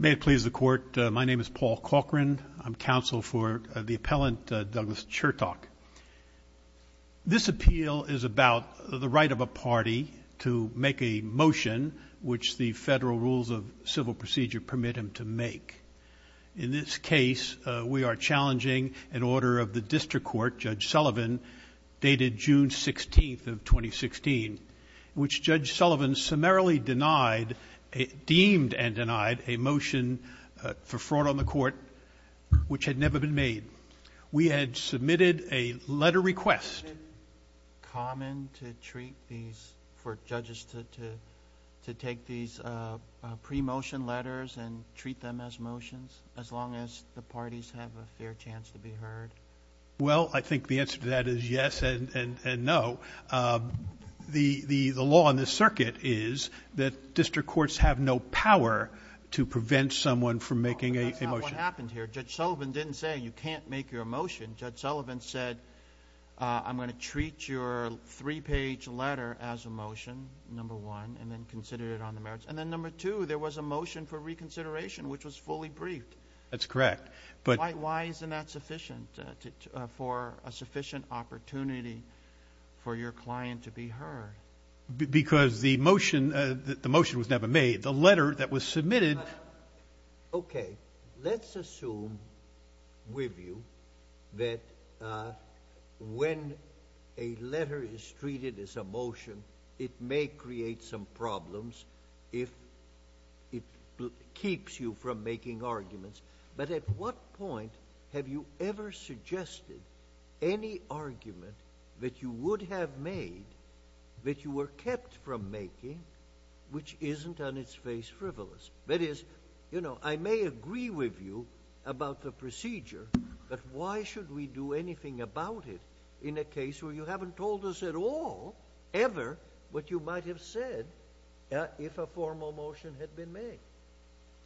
May it please the Court, my name is Paul Cochran, I'm counsel for the Appellant Douglas Chertock. This appeal is about the right of a party to make a motion which the federal rules of civil procedure permit him to make. In this case, we are challenging an order of the District Court, Judge Sullivan, dated June 16th of 2016, which Judge Sullivan summarily denied, deemed and denied, a motion for fraud on the Court which had never been made. We had submitted a letter request. Is it common to treat these, for judges to take these pre-motion letters and treat them as motions as long as the parties have a fair chance to be heard? Well I think the answer to that is yes and no. The law in this circuit is that District Courts have no power to prevent someone from making a motion. But that's not what happened here. Judge Sullivan didn't say you can't make your motion. Judge Sullivan said I'm going to treat your three-page letter as a motion, number one, and then consider it on the merits. And then number two, there was a motion for reconsideration which was fully briefed. That's correct. But why isn't that sufficient for a sufficient opportunity for your client to be heard? Because the motion was never made. The letter that was submitted... Okay, let's assume with you that when a letter is treated as a motion, it may create some problems if it keeps you from making arguments. But at what point have you ever suggested any argument that you would have made, that you were kept from making, which isn't on its face frivolous? That is, I may agree with you about the procedure, but why should we do anything about it in a case where you haven't told us at all, ever, what you might have said if a formal motion had been made?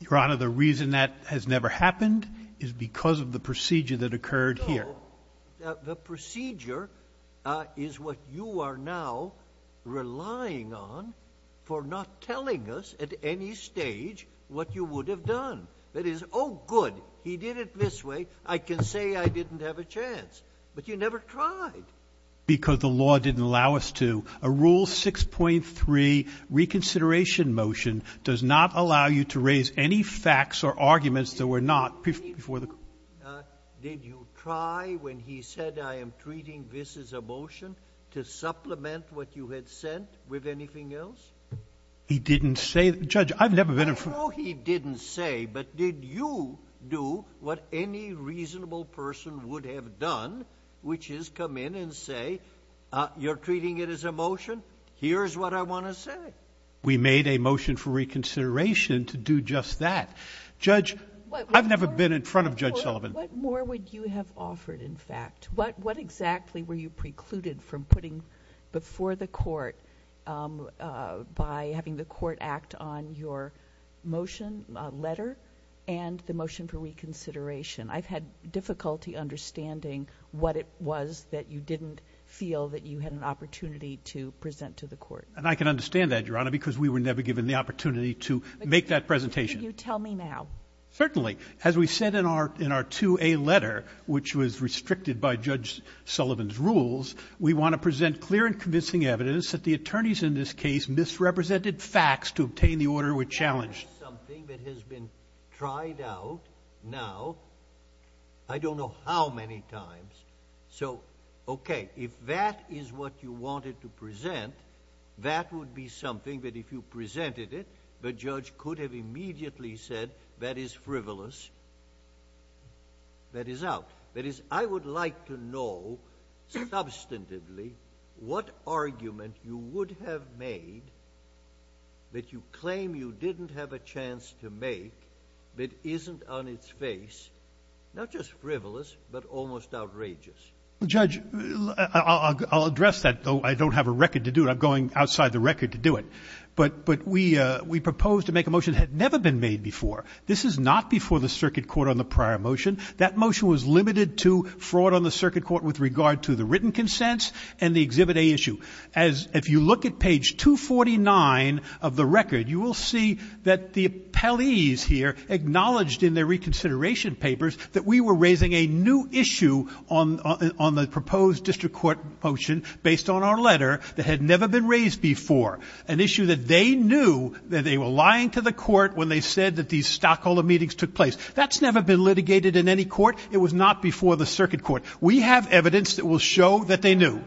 Your Honor, the reason that has never happened is because of the procedure that occurred here. No. The procedure is what you are now relying on for not telling us at any stage what you would have done. That is, oh good, he did it this way, I can say I didn't have a chance. But you never tried. Because the law didn't allow us to. A Rule 6.3 reconsideration motion does not allow you to raise any facts or arguments that were not before the court. Did you try when he said I am treating this as a motion to supplement what you had sent with anything else? He didn't say that. Judge, I've never been informed. I know he didn't say, but did you do what any reasonable person would have done, which is come in and say, you're treating it as a motion, here's what I want to say? We made a motion for reconsideration to do just that. Judge, I've never been in front of Judge Sullivan. What more would you have offered, in fact? What exactly were you precluded from putting before the court by having the court act on your motion, letter, and the motion for reconsideration? I've had difficulty understanding what it was that you didn't feel that you had an opportunity to present to the court. And I can understand that, Your Honor, because we were never given the opportunity to make that presentation. Could you tell me now? Certainly. As we said in our 2A letter, which was restricted by Judge Sullivan's rules, we want to present clear and convincing evidence that the attorneys in this case misrepresented facts to obtain the order we challenged. That is something that has been tried out now I don't know how many times. So OK, if that is what you wanted to present, that would be something that if you presented it, the judge could have immediately said, that is frivolous. That is out. That is, I would like to know, substantively, what argument you would have made that you have a chance to make that isn't on its face, not just frivolous, but almost outrageous? Judge, I'll address that, though I don't have a record to do it. I'm going outside the record to do it. But we proposed to make a motion that had never been made before. This is not before the circuit court on the prior motion. That motion was limited to fraud on the circuit court with regard to the written consents and the Exhibit A issue. If you look at page 249 of the record, you will see that the appellees here acknowledged in their reconsideration papers that we were raising a new issue on the proposed district court motion based on our letter that had never been raised before, an issue that they knew that they were lying to the court when they said that these stockholder meetings took place. That's never been litigated in any court. It was not before the circuit court. We have evidence that will show that they knew. How did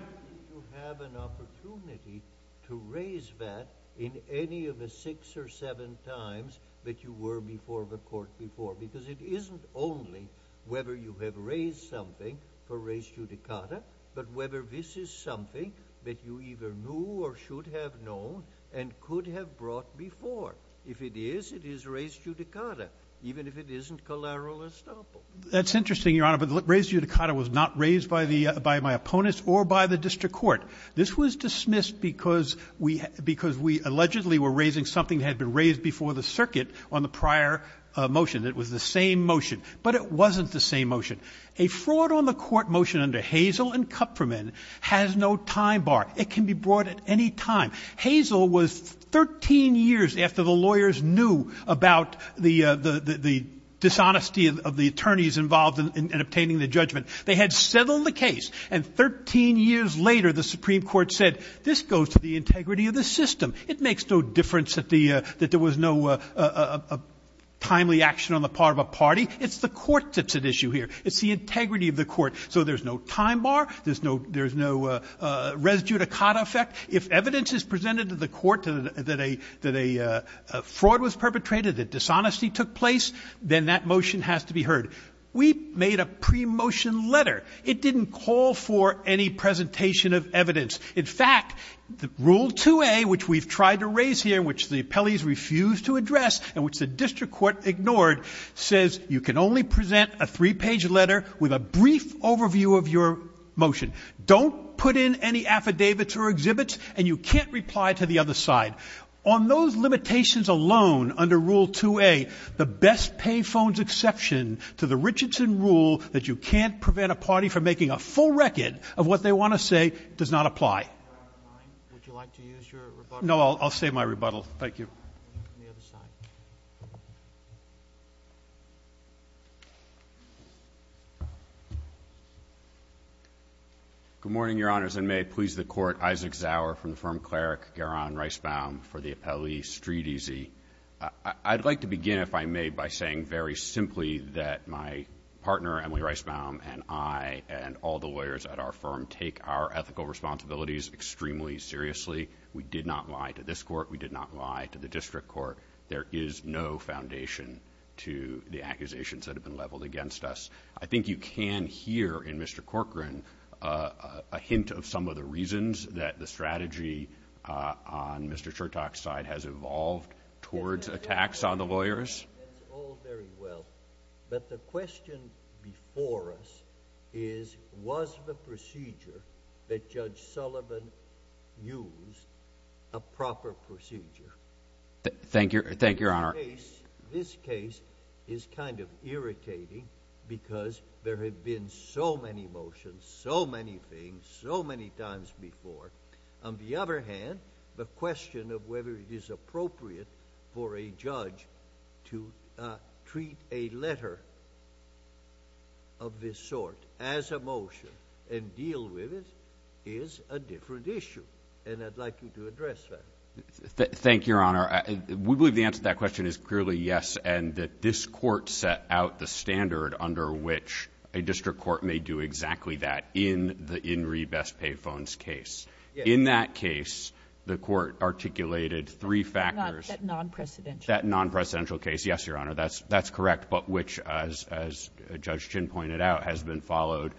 you have an opportunity to raise that in any of the six or seven times that you were before the court before? Because it isn't only whether you have raised something for res judicata, but whether this is something that you either knew or should have known and could have brought before. If it is, it is res judicata, even if it isn't collateral estoppel. That's interesting, Your Honor, but res judicata was not raised by the, by my opponents or by the district court. This was dismissed because we, because we allegedly were raising something that had been raised before the circuit on the prior motion. It was the same motion, but it wasn't the same motion. A fraud on the court motion under Hazel and Kupferman has no time bar. It can be brought at any time. Hazel was 13 years after the lawyers knew about the, the, the dishonesty of the attorneys involved in obtaining the judgment. They had settled the case and 13 years later, the Supreme Court said, this goes to the integrity of the system. It makes no difference that the, that there was no timely action on the part of a party. It's the court that's at issue here. It's the integrity of the court. So there's no time bar. There's no, there's no res judicata effect. If evidence is presented to the court that a, that a fraud was perpetrated, that dishonesty took place, then that motion has to be heard. We made a pre-motion letter. It didn't call for any presentation of evidence. In fact, the rule 2A, which we've tried to raise here, which the appellees refuse to address and which the district court ignored, says you can only present a three page letter with a brief overview of your motion. Don't put in any affidavits or exhibits and you can't reply to the other side. On those limitations alone, under rule 2A, the best pay phones exception to the Richardson rule that you can't prevent a party from making a full record of what they want to say does not apply. Would you like to use your rebuttal? No, I'll, I'll say my rebuttal. Thank you. On the other side. Good morning, your honors, and may it please the court, Isaac Zauer from the firm Cleric Guerin-Reisbaum for the appellee StreetEasy. I'd like to begin, if I may, by saying very simply that my partner, Emily Reisbaum, and I and all the lawyers at our firm take our ethical responsibilities extremely seriously. We did not lie to this court. We did not lie to the district court. There is no foundation to the accusations that have been leveled against us. I think you can hear in Mr. Corcoran a hint of some of the reasons that the strategy on Mr. Chertock's side has evolved towards attacks on the lawyers. That's all very well, but the question before us is, was the procedure that Judge Sullivan used a proper procedure? Thank you, thank you, your honor. This case is kind of irritating because there have been so many motions, so many things, so many times before. On the other hand, the question of whether it is appropriate for a judge to treat a letter of this sort as a motion and deal with it is a different issue, and I'd like you to address that. Thank you, your honor. We believe the answer to that question is clearly yes, and that this court set out the standard under which a district court may do exactly that in the In Re Best Pay Phones case. In that case, the court articulated three factors... That non-presidential. That non-presidential case, yes, your honor, that's correct, but which as Judge Chin pointed out has been followed,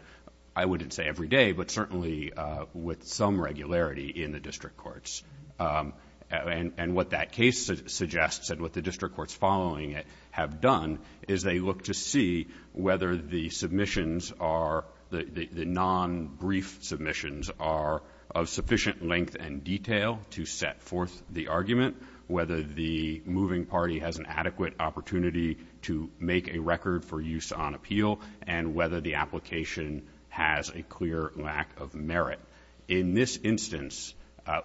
I wouldn't say every day, but certainly with some regularity in the district courts. And what that case suggests and what the district courts following it have done is they look to see whether the submissions are, the non-brief submissions are of sufficient length and detail to set forth the argument, whether the moving party has an adequate opportunity to make a record for use on appeal, and whether the application has a clear lack of merit. In this instance,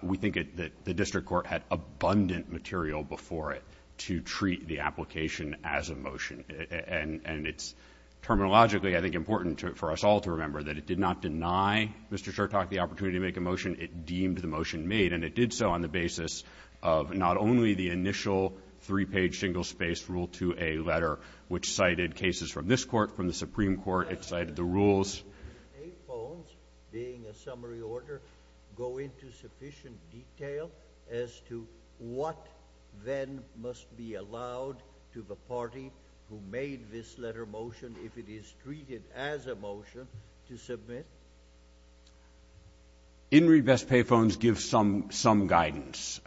we think that the district court had abundant material before it to treat the application as a motion, and it's terminologically, I think, important for us all to remember that it did not deny Mr. Chortok the opportunity to make a motion. It deemed the motion made, and it did so on the basis of not only the initial three-page single-space Rule 2A letter, which cited cases from this court, from the Supreme Court. It cited the rules... So, pay phones, being a summary order, go into sufficient detail as to what then must be allowed to the party who made this letter motion if it is treated as a motion to submit? In read best pay phones give some guidance.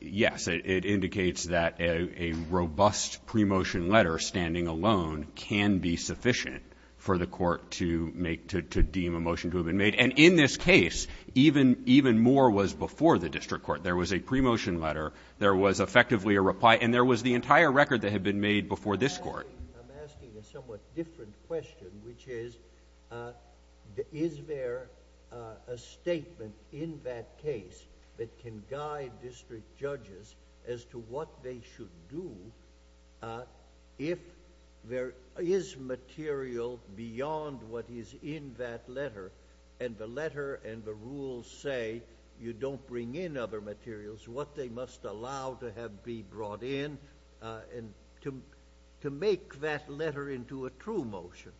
Yes, it indicates that a robust pre-motion letter, standing alone, can be sufficient for the court to make, to deem a motion to have been made. And in this case, even more was before the district court. There was a pre-motion letter. There was effectively a reply, and there was the entire record that had been made before this court. I'm asking a somewhat different question, which is, is there a statement in that case that can guide district judges as to what they should do if there is material beyond what is in that letter, and the letter and the rules say you don't bring in other materials, what they must allow to have be brought in to make that letter into a true motion?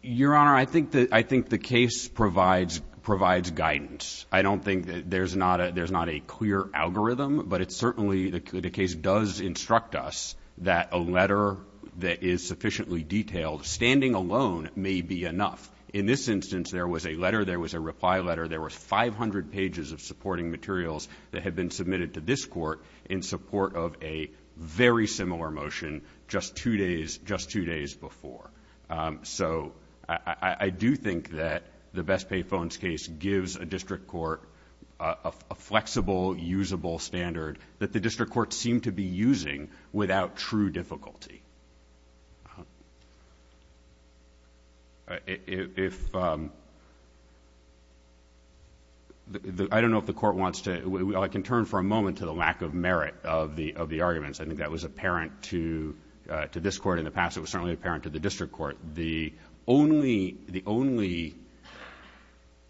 Your Honor, I think the case provides guidance. I don't think there's not a clear algorithm, but it certainly... the case does instruct us that a letter that is sufficiently detailed, standing alone, may be enough. In this instance, there was a letter. There was a reply letter. There was 500 pages of supporting materials that had been submitted to this court in support of a very similar motion just two days before. So I do think that the best pay phones case gives a district court a flexible, usable standard that the district court seemed to be using without true difficulty. I don't know if the court wants to... I can turn for a moment to the lack of merit of the arguments. I think that was apparent to this court in the past. It was certainly apparent to the district court. The only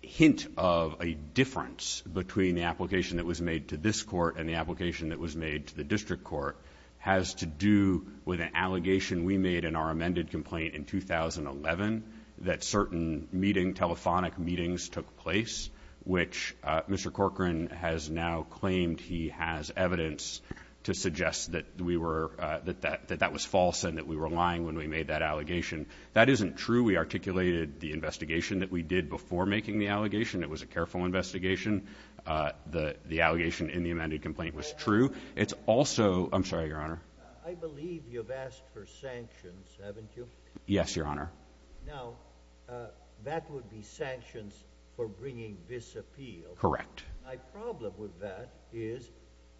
hint of a difference between the application that was made to this court and the application that was made to the district court has to do with an allegation we made in our amended complaint in 2011 that certain telephonic meetings took place, which Mr. Corcoran has now claimed he has evidence to suggest that that was false and that we were making that allegation. That isn't true. We articulated the investigation that we did before making the allegation. It was a careful investigation. The allegation in the amended complaint was true. It's also... I'm sorry, Your Honor. I believe you've asked for sanctions, haven't you? Yes, Your Honor. Now, that would be sanctions for bringing this appeal. Correct. My problem with that is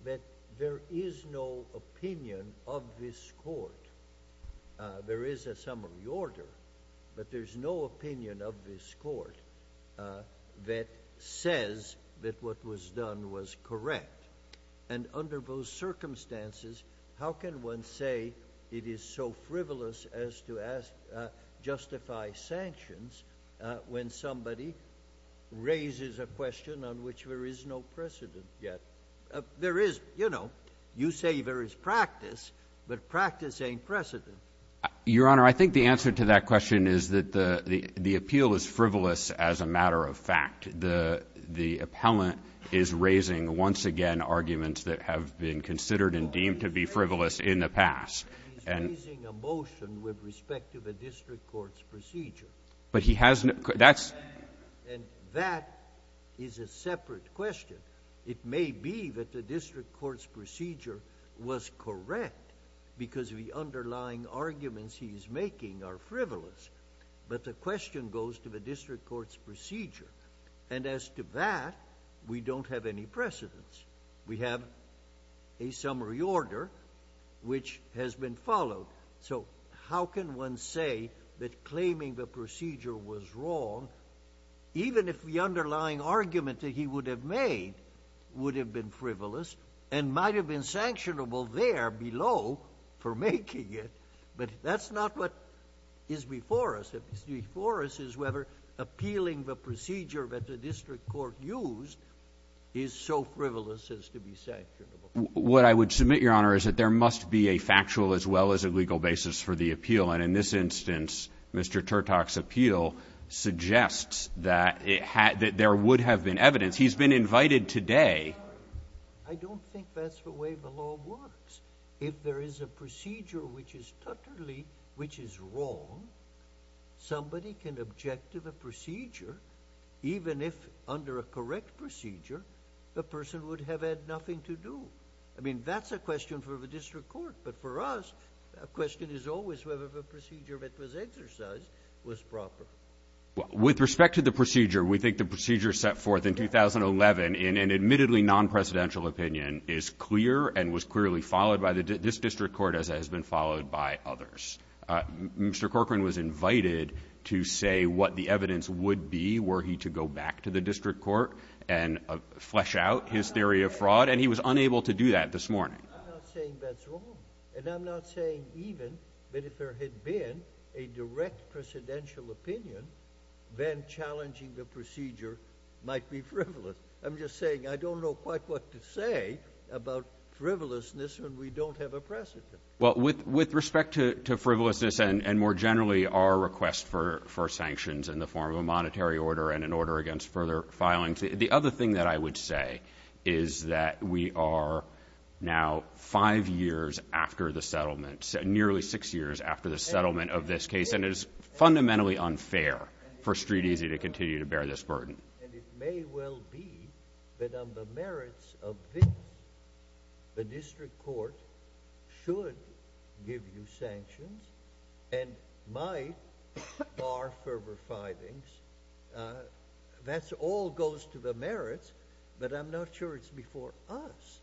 that there is no opinion of this court. There is a summary order, but there's no opinion of this court that says that what was done was correct. Under those circumstances, how can one say it is so frivolous as to justify sanctions when somebody raises a question on which there is no precedent yet? You say there is practice, but practice ain't precedent. Your Honor, I think the answer to that question is that the appeal is frivolous as a matter of fact. The appellant is raising, once again, arguments that have been considered and deemed to be frivolous in the past. He's raising a motion with respect to the district court's procedure. But he hasn't... And that is a separate question. It may be that the district court's procedure was correct because the underlying arguments he's making are frivolous, but the question goes to the district court's procedure. And as to that, we don't have any precedents. We have a summary order which has been followed. So how can one say that claiming the procedure was wrong, even if the underlying argument that he would have made would have been frivolous and might have been sanctionable there below for making it? But that's not what is before us. What's before us is whether appealing the procedure that the district court used is so frivolous as to be sanctionable. What I would submit, Your Honor, is that there must be a factual as well as a legal basis for the appeal. And in this instance, Mr. Turtock's appeal suggests that it had... that there would have been evidence. He's been invited today... I don't think that's the way the law works. If there is a procedure which is totally... which is wrong, somebody can object to the procedure, even if under a correct procedure, the person would have had nothing to do. I mean, that's a question for the district court. But for us, the question is always whether the procedure that was exercised was proper. With respect to the procedure, we think the procedure set forth in 2011 in an admittedly non-presidential opinion is clear and was clearly followed by this district court as it has been followed by others. Mr. Corcoran was invited to say what the evidence would be were he to go back to the district court and flesh out his theory of fraud, and he was unable to do that this morning. I'm not saying that's wrong, and I'm not saying even that if there had been a direct presidential opinion, then challenging the procedure might be frivolous. I'm just saying I don't know quite what to say about frivolousness when we don't have a precedent. Well, with respect to frivolousness and more generally our request for sanctions in the form of a monetary order and an order against further filings, the other thing that I would say is that we are now five years after the settlement, nearly six years after the settlement of this case, and it is fundamentally unfair for Street Easy to continue to bear this burden. And it may well be that on the merits of this, the district court should give you sanctions and might bar further filings. That all goes to the merits, but I'm not sure it's before us.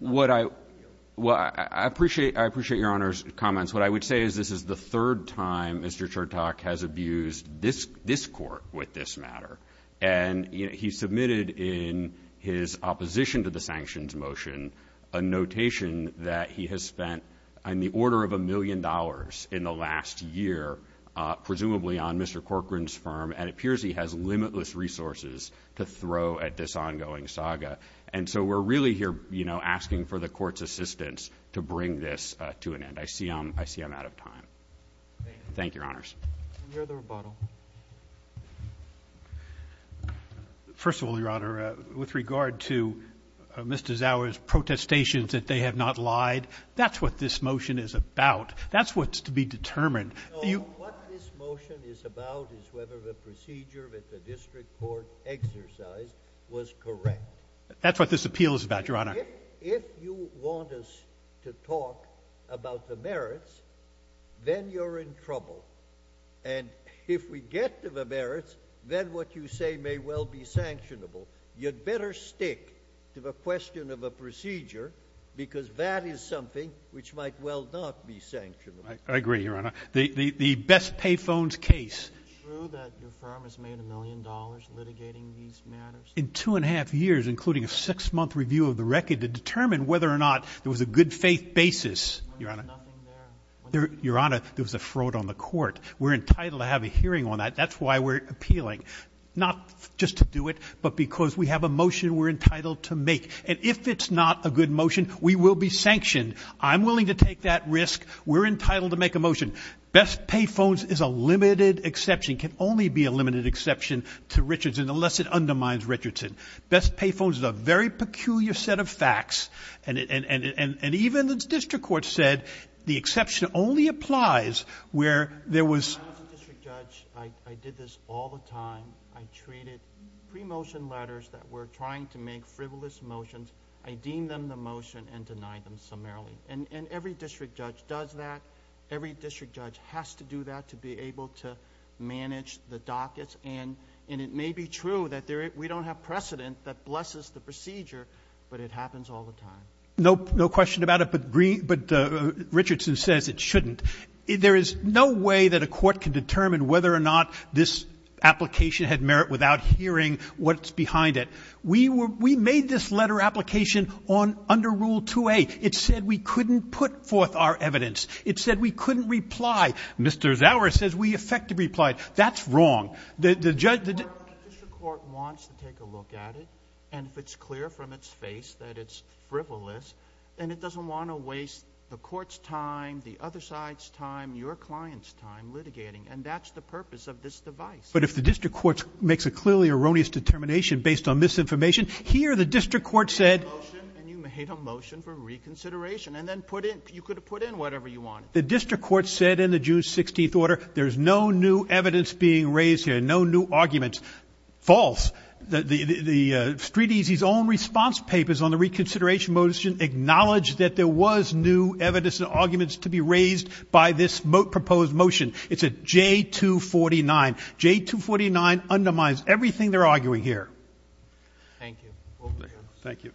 I appreciate Your Honor's comments. What I would say is this is the third time Mr. Chertok has abused this court with this matter, and he submitted in his opposition to the sanctions motion a notation that he has spent on the order of a million dollars in the last year, presumably on Mr. Corcoran's term, and it appears he has limitless resources to throw at this ongoing saga. And so we're really here, you know, asking for the court's assistance to bring this to an end. I see I'm out of time. Thank you, Your Honors. Any other rebuttal? First of all, Your Honor, with regard to Mr. Zauer's protestations that they have not lied, that's what this motion is about. That's what's to be determined. No, what this motion is about is whether the procedure that the district court exercised was correct. That's what this appeal is about, Your Honor. If you want us to talk about the merits, then you're in trouble. And if we get to the merits, then what you say may well be sanctionable. You'd better stick to the question of a procedure, because that is something which might well not be sanctionable. I agree, Your Honor. The Best Pay Phones case. Is it true that your firm has made a million dollars litigating these matters? In two and a half years, including a six-month review of the record to determine whether or not there was a good faith basis, Your Honor, there was a fraud on the court. We're entitled to have a hearing on that. That's why we're appealing, not just to do it, but because we have a motion we're entitled to make. And if it's not a good motion, we will be sanctioned. I'm willing to take that risk. We're entitled to make a motion. Best Pay Phones is a limited exception, can only be a limited exception to Richardson unless it undermines Richardson. Best Pay Phones is a very peculiar set of facts, and even the district court said the exception only applies where there was... I was a district judge. I did this all the time. I treated pre-motion letters that were trying to make frivolous motions. I deemed them the motion and denied them summarily. And every district judge does that. Every district judge has to do that to be able to manage the dockets. And it may be true that we don't have precedent that blesses the procedure, but it happens all the time. No question about it, but Richardson says it shouldn't. There is no way that a court can determine whether or not this application had merit without hearing what's behind it. We made this letter application under Rule 2A. It said we couldn't put forth our evidence. It said we couldn't reply. Mr. Zauer says we effectively replied. That's wrong. The judge... The district court wants to take a look at it, and if it's clear from its face that it's frivolous, then it doesn't want to waste the court's time, the other side's time, your client's time litigating. And that's the purpose of this device. But if the district court makes a clearly erroneous determination based on misinformation, here the district court said... You made a motion, and you made a motion for reconsideration, and then you could have put in whatever you wanted. The district court said in the June 16th order, there's no new evidence being raised here, no new arguments. False. The Street Easy's own response papers on the reconsideration motion acknowledged that there was new evidence and arguments to be raised by this proposed motion. It's a J249. J249 undermines everything they're arguing here. Thank you. Thank you.